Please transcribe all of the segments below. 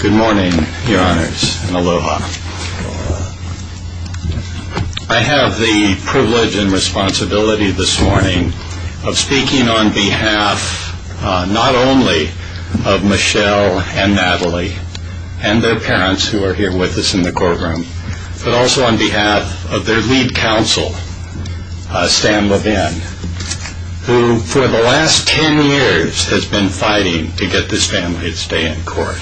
Good morning, your honors, and aloha. I have the privilege and responsibility this morning of speaking on behalf not only of Michelle and Natalie and their parents, who are here with us in the courtroom, but also on behalf of their lead counsel, Stan Levin, who for the last ten years has been fighting to get this family to stay in court.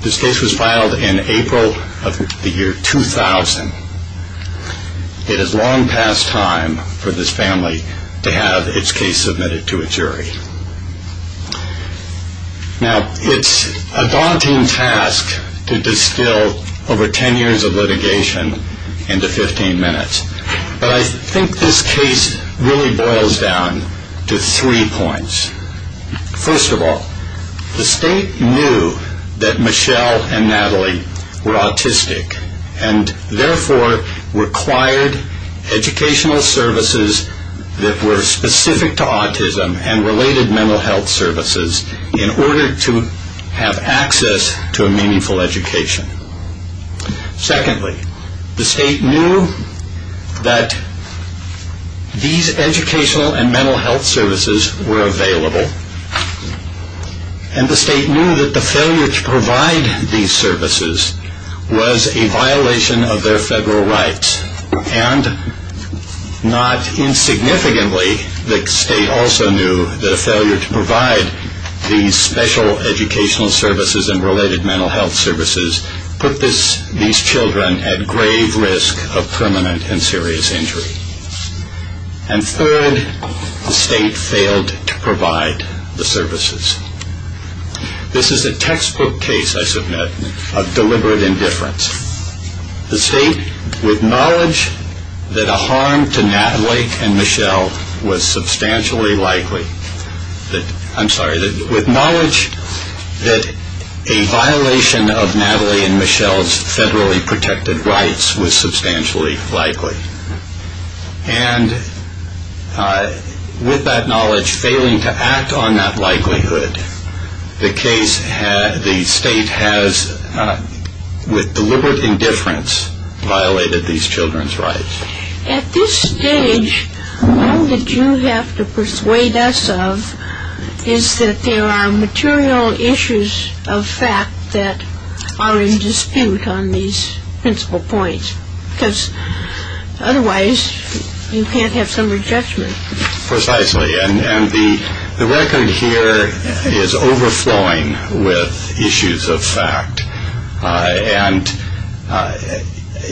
This case was filed in April of the year 2000. It is long past time for this family to have its case submitted to a jury. Now, it's a daunting task to distill over ten years of litigation into fifteen minutes, but I think this case really boils down to three points. First of all, the state knew that Michelle and Natalie were autistic and therefore required educational services that were specific to autism and related mental health services in order to have access to a meaningful education. Secondly, the state knew that these educational and mental health services were available, and the state knew that the failure to provide these services was a violation of their federal rights, and not insignificantly, the state also knew that a failure to provide these special educational services and related mental health services put these children at grave risk of permanent and serious injury. And third, the state failed to provide the services. This is a textbook case, I submit, of deliberate indifference. The state, with knowledge that a harm to Natalie and Michelle was substantially likely, I'm sorry, with knowledge that a violation of Natalie and Michelle's federally protected rights was substantially likely, and with that knowledge failing to act on that likelihood, the case, the state has, with deliberate indifference, violated these children's rights. At this stage, all that you have to persuade us of is that there are material issues of fact that are in dispute on these principal points, because otherwise you can't have some judgment. Precisely. And the record here is overflowing with issues of fact. And,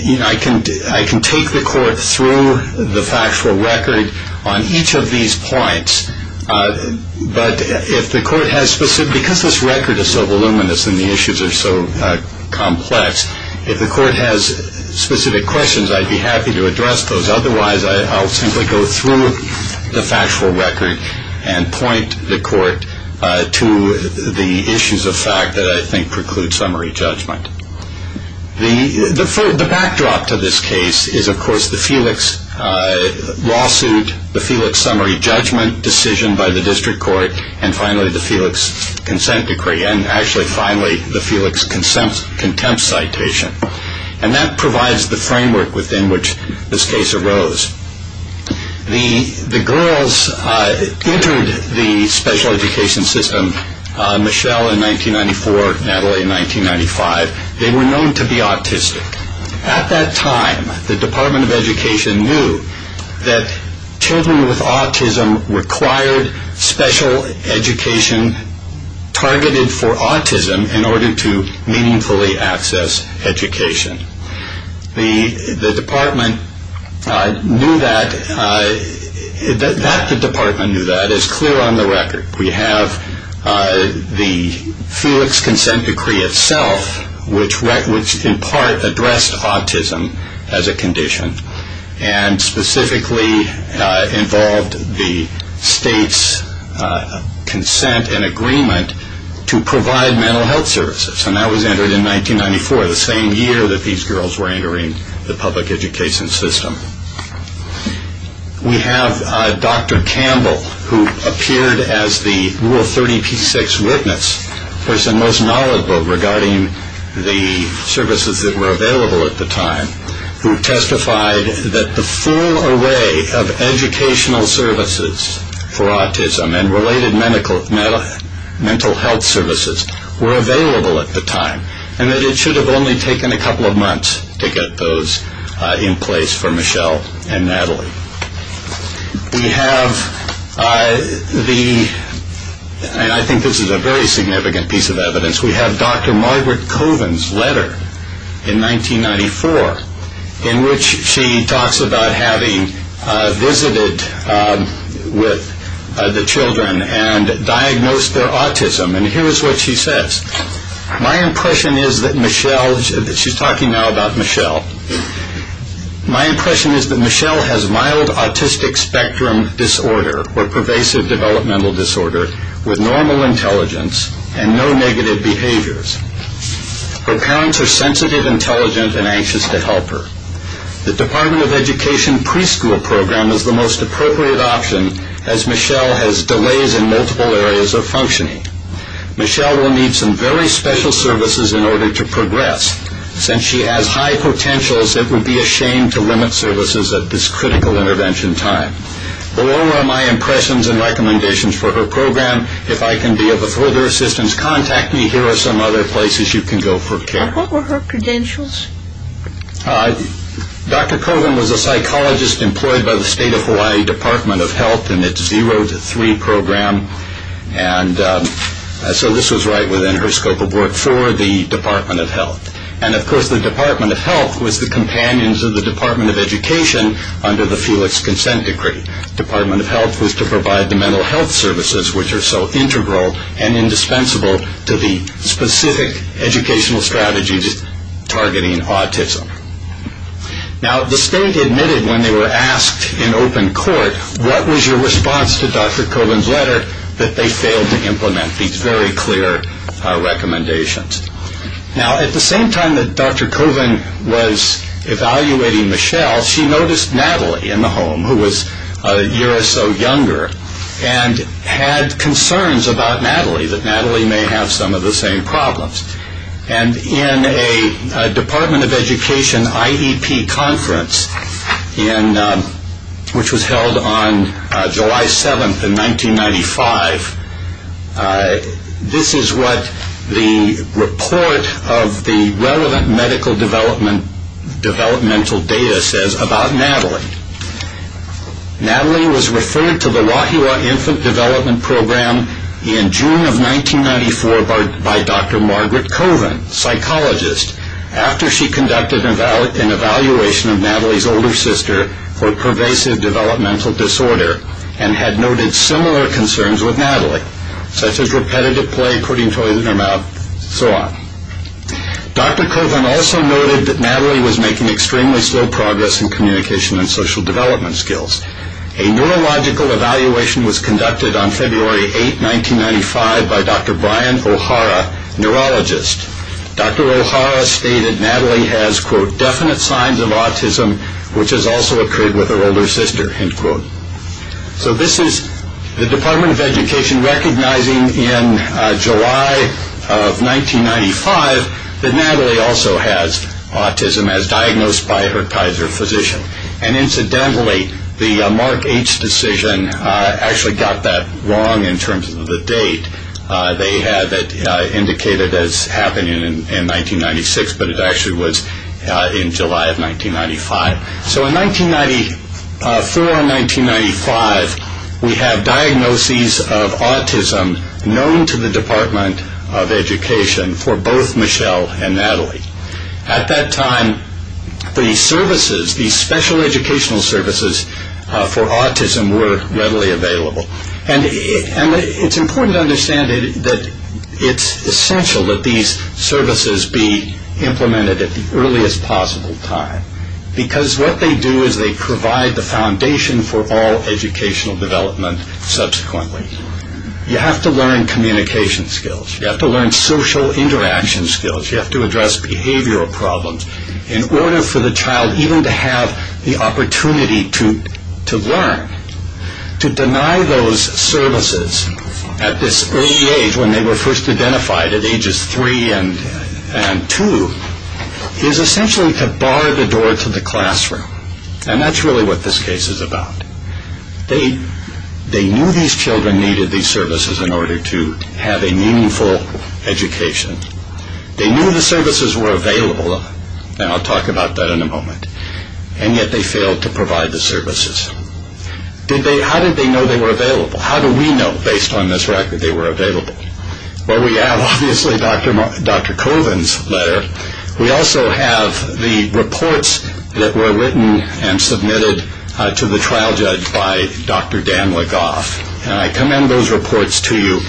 you know, I can take the court through the factual record on each of these points, but if the court has specific, because this record is so voluminous and the issues are so complex, if the court has specific questions, I'd be happy to address those. Otherwise, I'll simply go through the factual record and point the court to the issues of fact that I think preclude summary judgment. The backdrop to this case is, of course, the Felix lawsuit, the Felix summary judgment decision by the district court, and finally the Felix consent decree, and actually finally the Felix contempt citation. And that provides the framework within which this case arose. The girls entered the special education system, Michelle in 1994, Natalie in 1995. They were known to be autistic. At that time, the Department of Education knew that children with autism required special education targeted for autism in order to meaningfully access education. The department knew that. The department knew that. It's clear on the record. We have the Felix consent decree itself, which in part addressed autism as a condition, and specifically involved the state's consent and agreement to provide mental health services. And that was entered in 1994, the same year that these girls were entering the public education system. We have Dr. Campbell, who appeared as the Rule 30p6 witness, the person most knowledgeable regarding the services that were available at the time, who testified that the full array of educational services for autism and related mental health services were available at the time, and that it should have only taken a couple of months to get those in place for Michelle and Natalie. We have the, and I think this is a very significant piece of evidence, we have Dr. Margaret Coven's letter in 1994, in which she talks about having visited with the children and diagnosed their autism. And here's what she says. My impression is that Michelle, she's talking now about child autistic spectrum disorder, or pervasive developmental disorder, with normal intelligence and no negative behaviors. Her parents are sensitive, intelligent, and anxious to help her. The Department of Education preschool program is the most appropriate option, as Michelle has delays in multiple areas of functioning. Michelle will need some very special services in order to progress. Since she has high potentials, it would be a shame to limit services at this critical intervention time. Below are my impressions and recommendations for her program. If I can be of further assistance, contact me. Here are some other places you can go for care. What were her credentials? Dr. Coven was a psychologist employed by the State of Hawaii Department of Health in its Zero to Three program, and so this was right within her scope of work for the Department of Health. And of course the Department of Health was the companions of the Department of Education under the Felix Consent Decree. The Department of Health was to provide the mental health services, which are so integral and indispensable to the specific educational strategies targeting autism. Now the state admitted when they were asked in open court, what was your response to Dr. Coven's letter, that they failed to implement these very clear recommendations. Now at the same time that Dr. Coven was evaluating Michelle, she noticed Natalie in the home, who was a year or so younger, and had concerns about Natalie, that Natalie may have some of the same problems. And in a Department of Education IEP conference, which was held on July 7th in 1995, this is what the report of the relevant medical developmental data says about Natalie. Natalie was referred to the Wahiawa Infant Development Program in June of 1994 by Dr. Margaret Coven, psychologist, after she conducted an evaluation of Natalie's older sister for similar concerns with Natalie, such as repetitive play, putting toys in her mouth, so on. Dr. Coven also noted that Natalie was making extremely slow progress in communication and social development skills. A neurological evaluation was conducted on February 8th, 1995 by Dr. Brian Ohara, neurologist. Dr. Ohara stated Natalie has, quote, definite signs of autism, which has also occurred with her older sister, end quote. So this is the Department of Education recognizing in July of 1995 that Natalie also has autism, as diagnosed by her Kaiser physician. And incidentally, the Mark H. decision actually got that wrong in terms of the date. They had it indicated as happening in 1996, but it actually was in July of 1995. So in 1994 and 1995, we have diagnoses of autism known to the Department of Education for both Michelle and Natalie. At that time, the services, the special educational services for autism were readily available. And it's important to understand that it's essential that these services be implemented at the earliest possible time. Because what they do is they provide the foundation for all educational development subsequently. You have to learn communication skills. You have to learn social interaction skills. You have to address behavioral problems in order for the child even to have the opportunity to learn. To deny those services at this early age when they were first identified at ages three and two is essentially to bar the door to the classroom. And that's really what this case is about. They knew these children needed these services in order to have a meaningful education. They knew the services were available. And I'll talk about that in a moment. And yet they failed to provide the services. How did they know they were available? How do we know, based on this record, they were available? Well, we have, obviously, Dr. Colvin's letter. We also have the reports that were written and submitted to the trial judge by Dr. Dan Legoff. And I commend those reports to you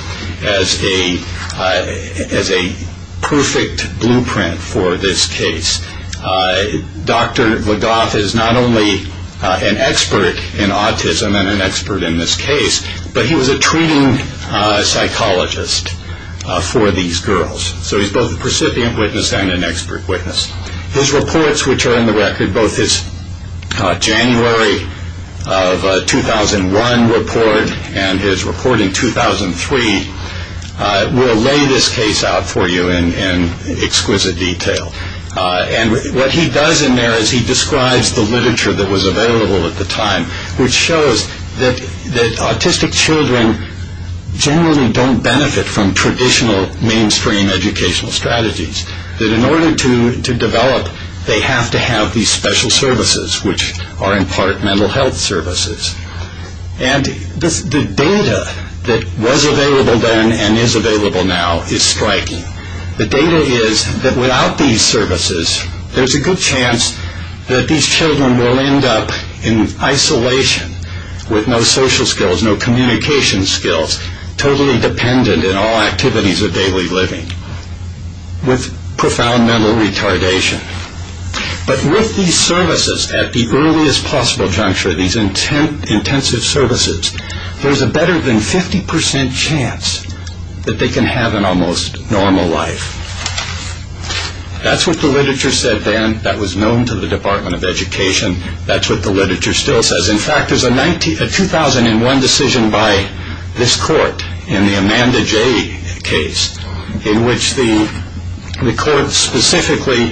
as a perfect blueprint for this case. Dr. Legoff is not only an expert in autism and an expert in this case, but he was a treating psychologist for these girls. So he's both a recipient witness and an expert witness. His reports, which are in the record, both his January of 2001 report and his report in 2003, will lay this case out for you in exquisite detail. And what he does in there is he describes the literature that was available at the time, which shows that autistic children generally don't benefit from traditional mainstream educational strategies. That in order to develop, they have to have these special services, which are in part mental health services. And the data that was available then and is available now is striking. The data is that without these services, there's a good chance that these children will end up in isolation with no social skills, no communication skills, totally dependent in all activities of daily living, with profound mental retardation. But with these services at the earliest possible juncture, these intensive services, there's a better than 50% chance that they can have an almost normal life. That's what the literature said then. That was known to the Department of Education. That's what the literature still says. In fact, there's a 2001 decision by this court in the Amanda J. case, in which the court specifically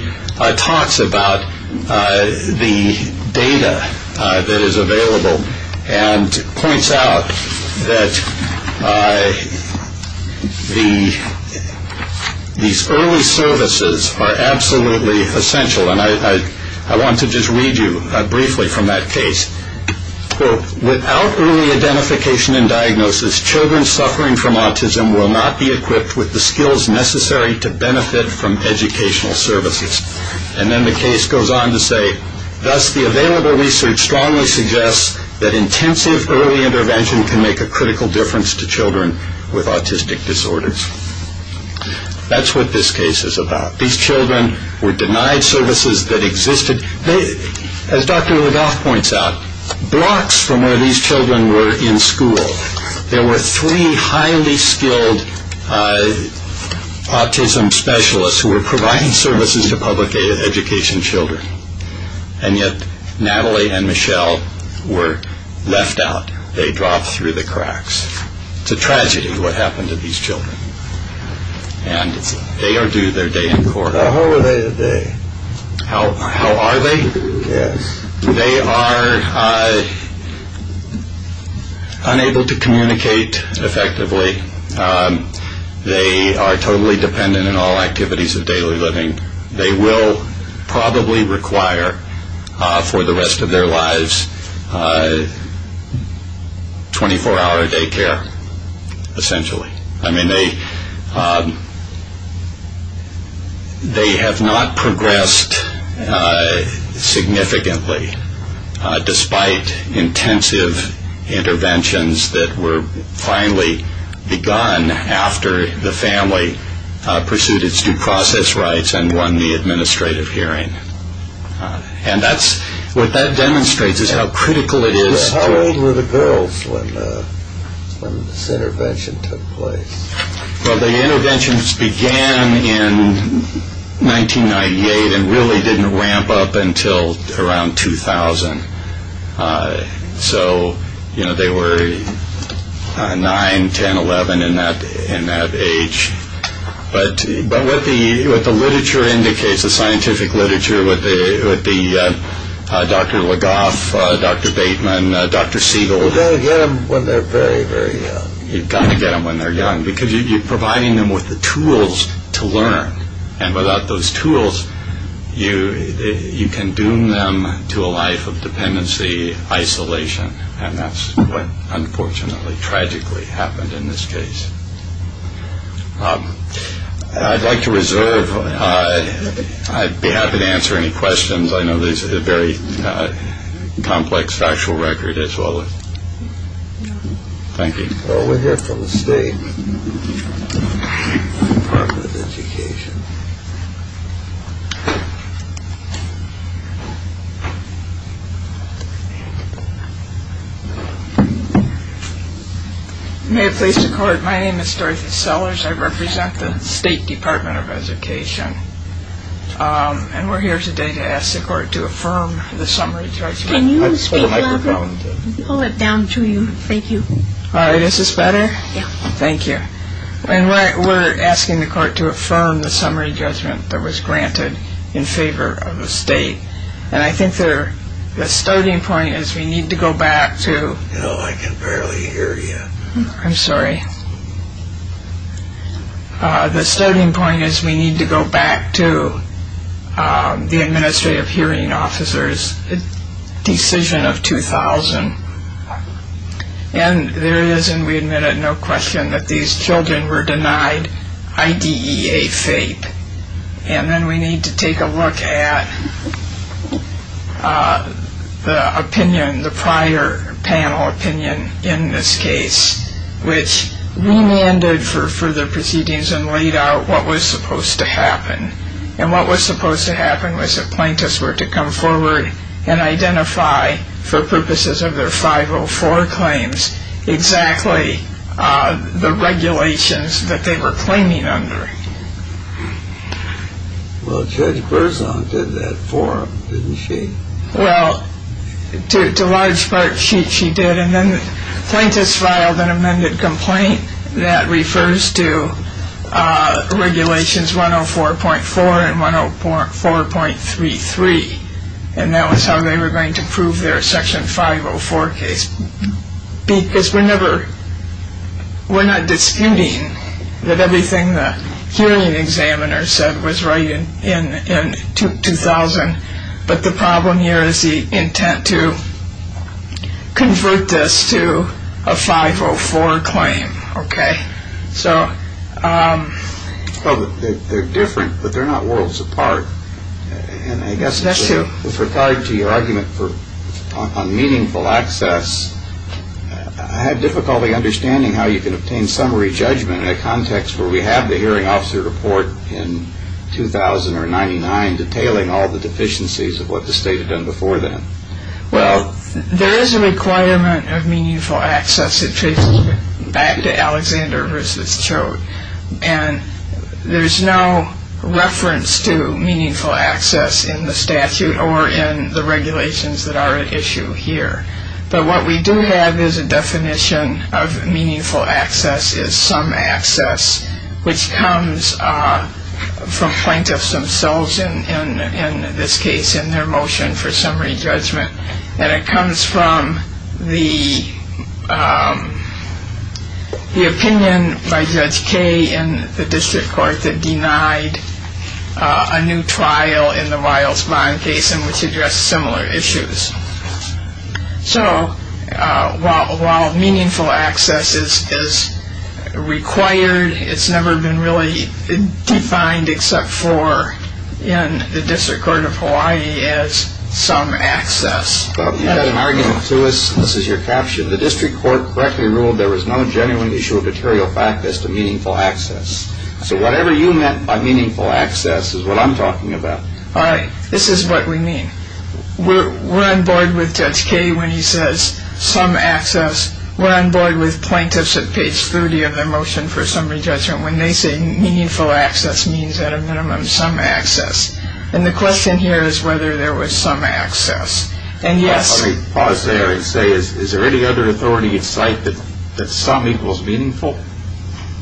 talks about the data that is available and points out that these early services are absolutely essential. And I want to just read you briefly from that case. Quote, without early identification and diagnosis, children suffering from autism will not be equipped with the skills necessary to benefit from educational services. And then the case goes on to say, thus the available research strongly suggests that intensive early intervention can make a critical difference to children with autistic disorders. That's what this case is about. These children were in schools that existed. As Dr. Rudolph points out, blocks from where these children were in school, there were three highly skilled autism specialists who were providing services to public education children. And yet Natalie and Michelle were left out. They dropped through the cracks. It's a tragedy what happened to these children. And they are due their day in court. How are they today? How are they? They are unable to communicate effectively. They are totally dependent on all activities of daily living. They will probably require for the rest of their lives 24-hour day care, essentially. I mean, they have not progressed significantly despite intensive interventions that were finally begun after the family pursued its due process rights and won the administrative hearing. And that's, what that demonstrates is how critical it is. How old were the girls when this intervention took place? Well, the interventions began in 1998 and really didn't ramp up until around 2000. So, you know, they were 9, 10, 11 in that age. But what the literature indicates, the scientific literature, would be Dr. LeGoff, Dr. Bateman, Dr. Siegel. You've got to get them when they are very, very young. You've got to get them when they are young because you are providing them with the tools to learn. And without those tools, you can doom them to a life of dependency, isolation. And that's what, unfortunately, tragically happened in this case. I'd like to reserve. I'd be happy to answer any questions. I know this is a very complex factual record as well. Thank you. Well, we have from the State Department of Education. May it please the Court, my name is Dorothy Sellers. I represent the State Department of Education. And we're here today to ask the Court to affirm the summary judgment. Can you speak louder? Hold it down to you. Thank you. All right. Is this better? Thank you. And we're asking the Court to affirm the summary judgment that was granted in favor of the State. And I think the starting point is we need to go back to... Oh, I can barely hear you. I'm sorry. The starting point is we need to go back to the Administrative Hearing Officers Decision of 2000. And there is, and we admit it, no question, that these children were denied IDEA FAPE. And then we need to take a look at the opinion, the prior panel opinion in this case, which remanded for further proceedings and laid out what was supposed to happen. And what was supposed to happen was that plaintiffs were to come forward and identify, for purposes of their 504 claims, exactly the regulations that they were claiming under. Well, Judge Berzon did that for them, didn't she? Well, to large part, she did. And then plaintiffs filed an amended complaint that refers to Regulations 104.4 and 104.33. And that was how they were going to prove their Section 504 case. Because we're never, we're not disputing that everything the hearing examiner said was right in 2000. But the problem here is the intent to convert this to a 504 claim. Okay. So... Well, they're different, but they're not worlds apart. That's true. And I guess with regard to your argument on meaningful access, I have difficulty understanding how you can obtain summary judgment in a context where we have the Hearing Officer Report in 2000 or 99 detailing all the deficiencies of what the state had done before then. Well, there is a requirement of meaningful access that traces back to Alexander v. Choate. And there's no reference to meaningful access in the statute or in the regulations that are at issue here. But what we do have is a definition of meaningful access is some access which comes from plaintiffs themselves, in this case, in their motion for summary judgment. And it comes from the opinion by Judge Kaye in the district court that denied a new trial in the Wiles Bond case in which addressed similar issues. So, while meaningful access is required, it's never been really defined except for in the case. But you had an argument to us. This is your caption. The district court correctly ruled there was no genuine issue of material fact as to meaningful access. So, whatever you meant by meaningful access is what I'm talking about. All right. This is what we mean. We're on board with Judge Kaye when he says some access. We're on board with plaintiffs at page 30 of their motion for summary judgment when they say meaningful access means, at a minimum, some access. And the question here is whether there was some access. Let me pause there and say, is there any other authority at site that some equals meaningful?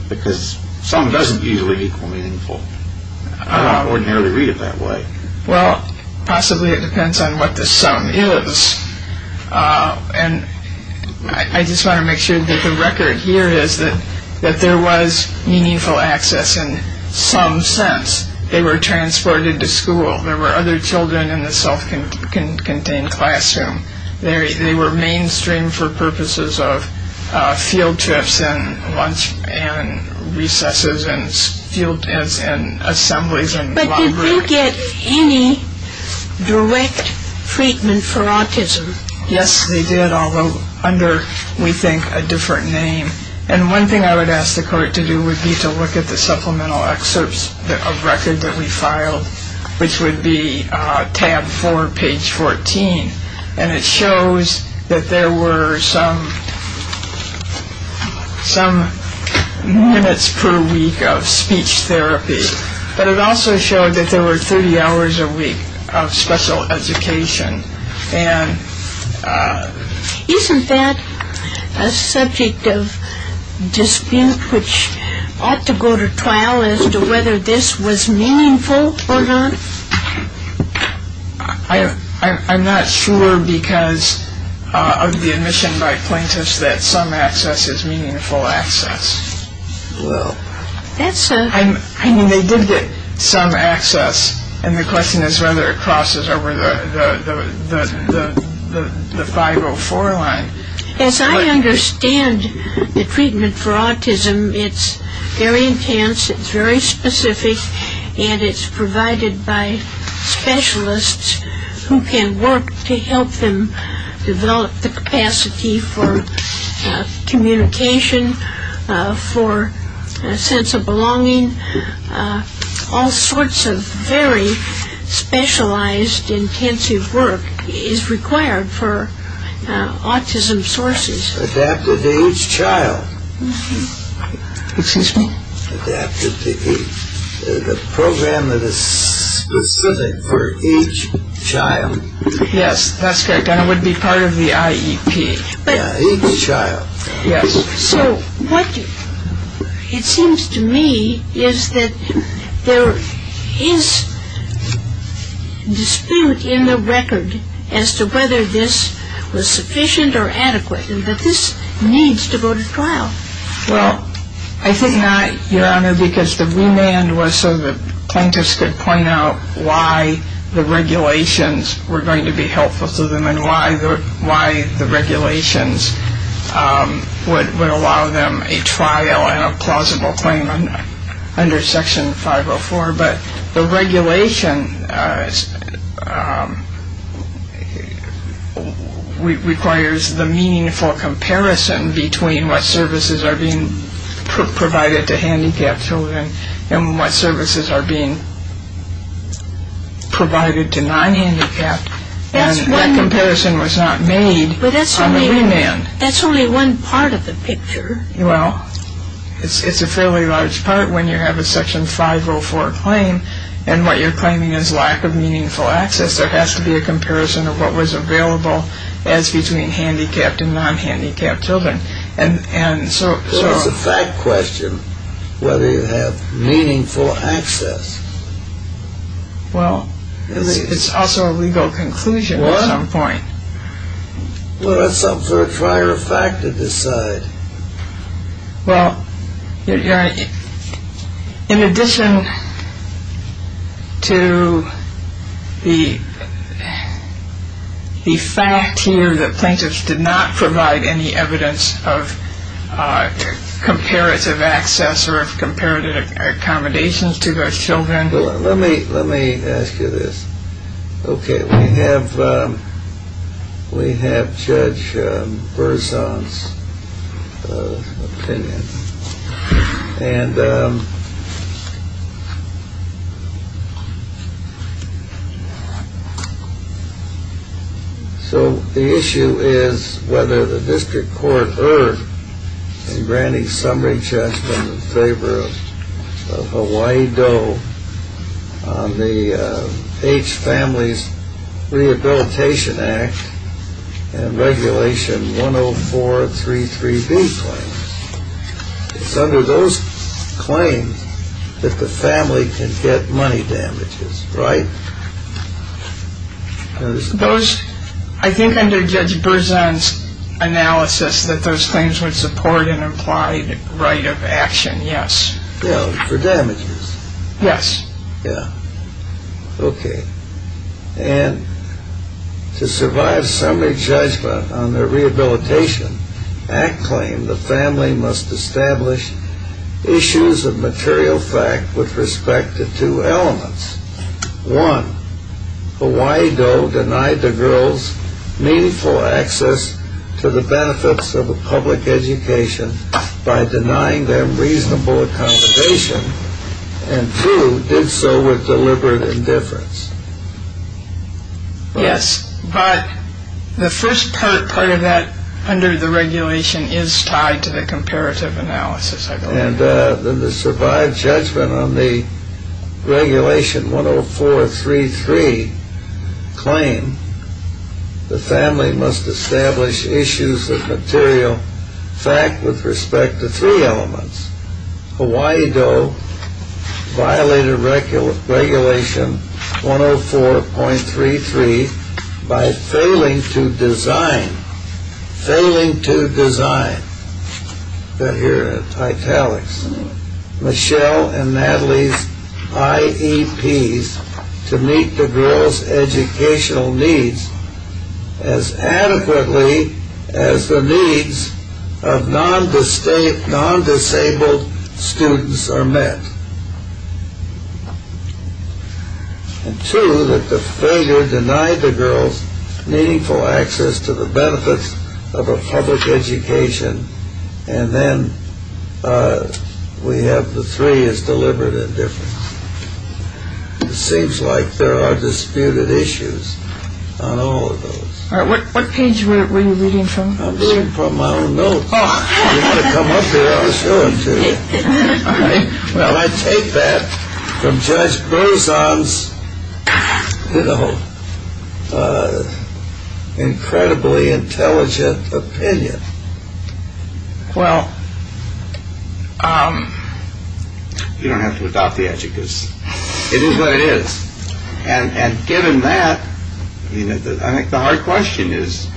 Because some doesn't usually equal meaningful. I don't ordinarily read it that way. Well, possibly it depends on what the some is. And I just want to make sure that the record here is that there was meaningful access in some sense. They were transported to school. There were other children in the self-contained classroom. They were mainstreamed for purposes of field trips and lunch and recesses and assemblies and laundry. But did you get any direct treatment for autism? Yes, we did, although under, we think, a different name. And one thing I would ask the court to do would be to look at the supplemental excerpts of record that we filed, which would be tab 4, page 14. And it shows that there were some minutes per week of speech therapy. But it also showed that there were 30 hours a week of special education. Isn't that a subject of dispute which ought to go to trial as to whether this was meaningful or not? I'm not sure because of the admission by plaintiffs that some access is meaningful access. I mean, they did get some access. And the question is whether it crosses over the 504 line. As I understand the treatment for autism, it's very intense, it's very specific, and it's provided by specialists who can work to help them develop the capacity for communication, for a sense of belonging, all sorts of very specialized intensive work is required for autism sources. Adapted to each child. Excuse me? Adapted to each, the program that is specific for each child. Yes, that's correct. And it would be part of the IEP. Each child. Yes. So what it seems to me is that there is dispute in the record as to whether this was sufficient or adequate and that this needs to go to trial. Well, I think not, Your Honor, because the remand was so the plaintiffs could point out why the regulations were going to be helpful to them and why the regulations would allow them a trial and a plausible claim under Section 504. But the regulation requires the meaningful comparison between what services are being handicapped and that comparison was not made on the remand. But that's only one part of the picture. Well, it's a fairly large part when you have a Section 504 claim and what you're claiming is lack of meaningful access. There has to be a comparison of what was available as between handicapped and non-handicapped children. There is a fact question whether you have meaningful access. Well, it's also a legal conclusion at some point. Well, that's something for a prior fact to decide. Well, Your Honor, in addition to the fact here that plaintiffs did not provide any evidence of comparative access or of comparative accommodations to their children. Well, let me ask you this. Okay, we have Judge Berzon's opinion. And so the issue is whether the District Court erred in granting summary justice in favor of Hawaii Doe on the H Families Rehabilitation Act and Regulation 10433B claims. It's under those claims that the family can get money damages, right? I think under Judge Berzon's analysis that those claims would support an implied right of action, yes. Yeah, for damages. Yes. Yeah. Okay. And to survive summary judgment on their rehabilitation, Act claim the family must establish issues of material fact with respect to two elements. One, Hawaii Doe denied the girls meaningful access to the benefits of a public education by denying them reasonable accommodation. And two, did so with deliberate indifference. Yes, but the first part of that under the regulation is tied to the comparative analysis, I believe. And to survive judgment on the Regulation 10433 claim, the family must establish issues of material fact with respect to three elements. Hawaii Doe violated Regulation 104.33 by failing to design, failing to design, that here are the italics, Michelle and Natalie's IEPs to meet the girls' educational needs as adequately as the needs of non-disabled students are met. And two, that the failure denied the girls meaningful access to the benefits of a public education. And then we have the three is deliberate indifference. It seems like there are disputed issues on all of those. All right, what page were you reading from? I was reading from my own notes. You ought to come up here, I'll show them to you. All right. Well, I take that from Judge Berzon's, you know, incredibly intelligent opinion. Well, um. You don't have to adopt the adjectives. It is what it is. And given that, I think the hard question is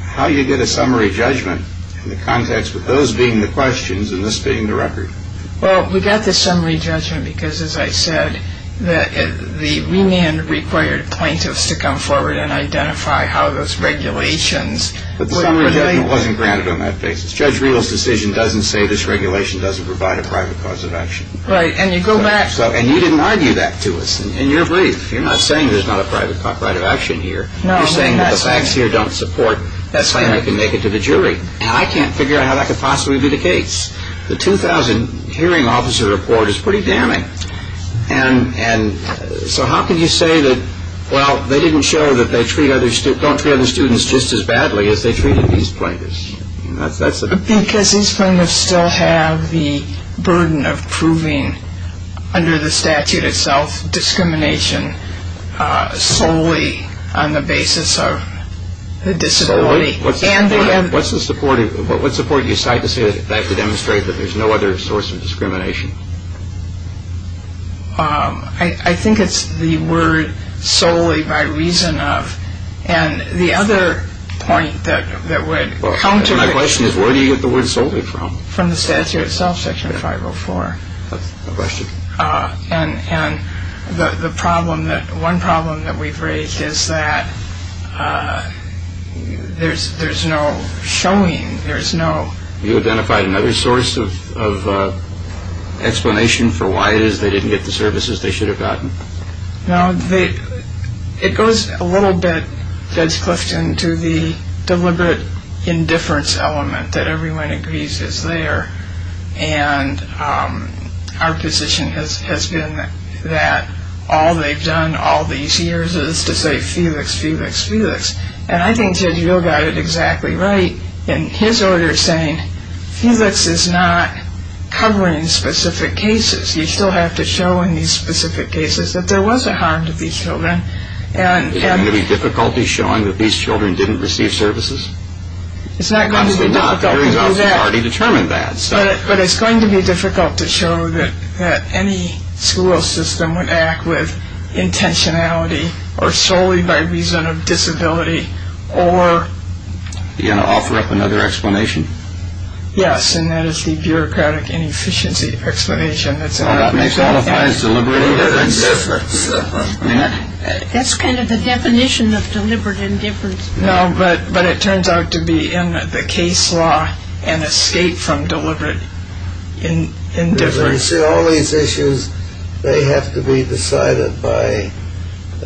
how you get a summary judgment in the context with those being the questions and this being the record. Well, we got the summary judgment because, as I said, the remand required plaintiffs to come forward and identify how those regulations. But the summary judgment wasn't granted on that basis. Judge Riehl's decision doesn't say this regulation doesn't provide a private cause of action. Right, and you go back. And you didn't argue that to us. And you're brief. You're not saying there's not a private right of action here. No. You're saying that the facts here don't support, that's why you can make it to the jury. And I can't figure out how that could possibly be the case. The 2000 hearing officer report is pretty damning. And so how can you say that, well, they didn't show that they treat other students, don't treat other students just as badly as they treated these plaintiffs. Because these plaintiffs still have the burden of proving under the statute itself, discrimination solely on the basis of the disability. What's the support you cite to say that they have to demonstrate that there's no other source of discrimination? I think it's the word solely by reason of. And the other point that would counter it. My question is where do you get the word solely from? From the statute itself, Section 504. That's the question. And the problem, one problem that we've raised is that there's no showing, there's no... You identify another source of explanation for why it is they didn't get the services they should have gotten? No, it goes a little bit, Judge Clifton, to the deliberate indifference element that everyone agrees is there. And our position has been that all they've done all these years is to say, Felix, Felix, Felix. And I think Judge Real got it exactly right in his order saying, Felix is not covering specific cases. You still have to show in these specific cases that there was a harm to these children. Is there going to be difficulty showing that these children didn't receive services? We've already determined that. But it's going to be difficult to show that any school system would act with intentionality or solely by reason of disability. Are you going to offer up another explanation? Yes, and that is the bureaucratic inefficiency explanation. That may qualify as deliberate indifference. That's kind of the definition of deliberate indifference. No, but it turns out to be in the case law an escape from deliberate indifference. All these issues, they have to be decided by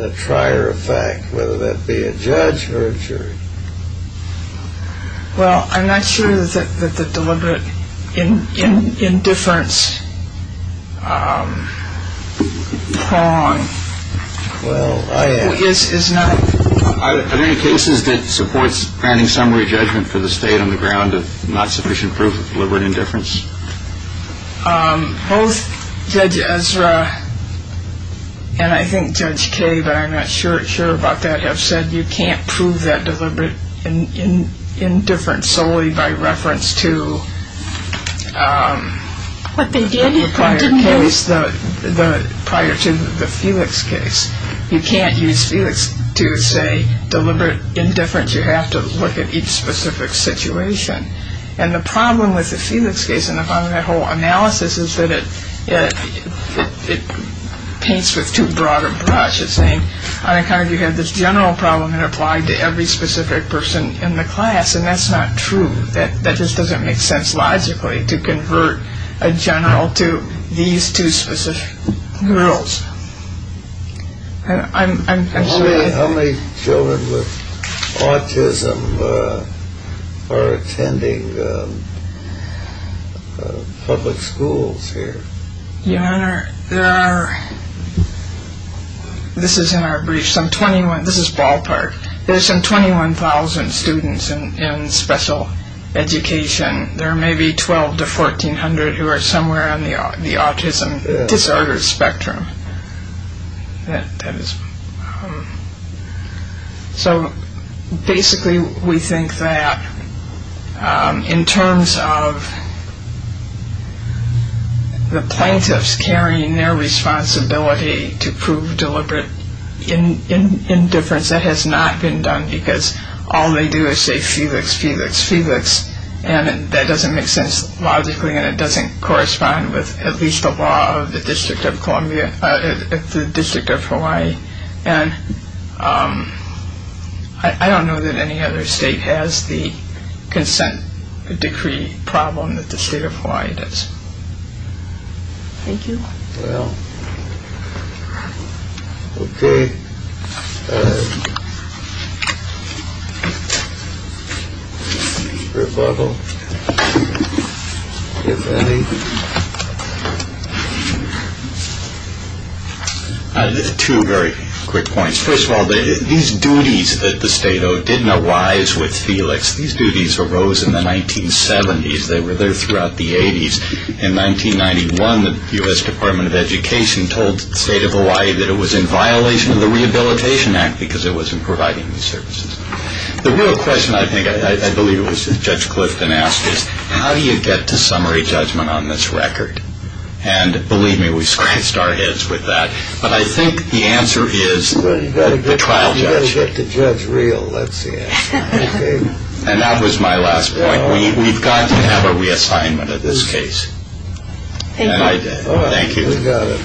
a trier of fact, whether that be a judge or a jury. Well, I'm not sure that the deliberate indifference prong is not... Are there any cases that supports granting summary judgment for the state on the ground of not sufficient proof of deliberate indifference? Both Judge Ezra and I think Judge Kaye, but I'm not sure about that, have said you can't prove that deliberate indifference solely by reference to the prior case, prior to the Felix case. You can't use Felix to say deliberate indifference. You have to look at each specific situation. And the problem with the Felix case, and the problem with that whole analysis, is that it paints with too broad a brush. It's saying, you have this general problem that applied to every specific person in the class, and that's not true. That just doesn't make sense logically, to convert a general to these two specific girls. How many children with autism are attending public schools here? Your Honor, there are, this is in our brief, some 21, this is ballpark, there's some 21,000 students in special education. There may be 12 to 1400 who are somewhere on the autism disorder spectrum. That is, so basically we think that in terms of the plaintiffs carrying their responsibility to prove deliberate indifference, that has not been done, because all they do is say Felix, Felix, Felix, and that doesn't make sense logically, and it doesn't correspond with at least the law of the District of Columbia, the District of Hawaii. And I don't know that any other state has the consent decree problem that the State of Hawaii does. Thank you. Well, OK. Rebuttal, if any. Two very quick points. First of all, these duties that the state didn't arise with Felix. These duties arose in the 1970s. They were there throughout the 80s. In 1991, the U.S. Department of Education told the State of Hawaii that it was in violation of the Rehabilitation Act because it wasn't providing these services. The real question, I think, I believe it was Judge Clifton asked is, how do you get to summary judgment on this record? And believe me, we scratched our heads with that. But I think the answer is the trial judge. You've got to get the judge real, that's the answer. And that was my last point. We've got to have a reassignment in this case. And I did. Thank you. We got it.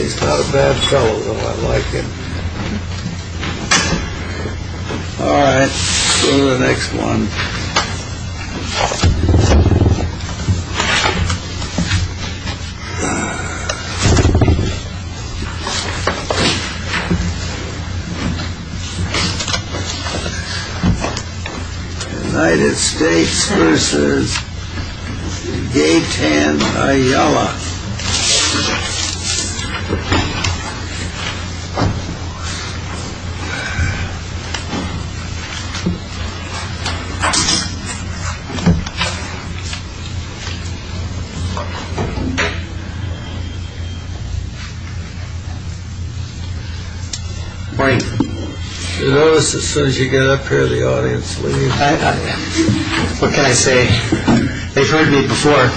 He's not a bad fellow, though. I like him. All right. To the next one. United States vs. Gaytan Ayala. Morning. You notice as soon as you get up here, the audience leaves. What can I say? They've heard me before.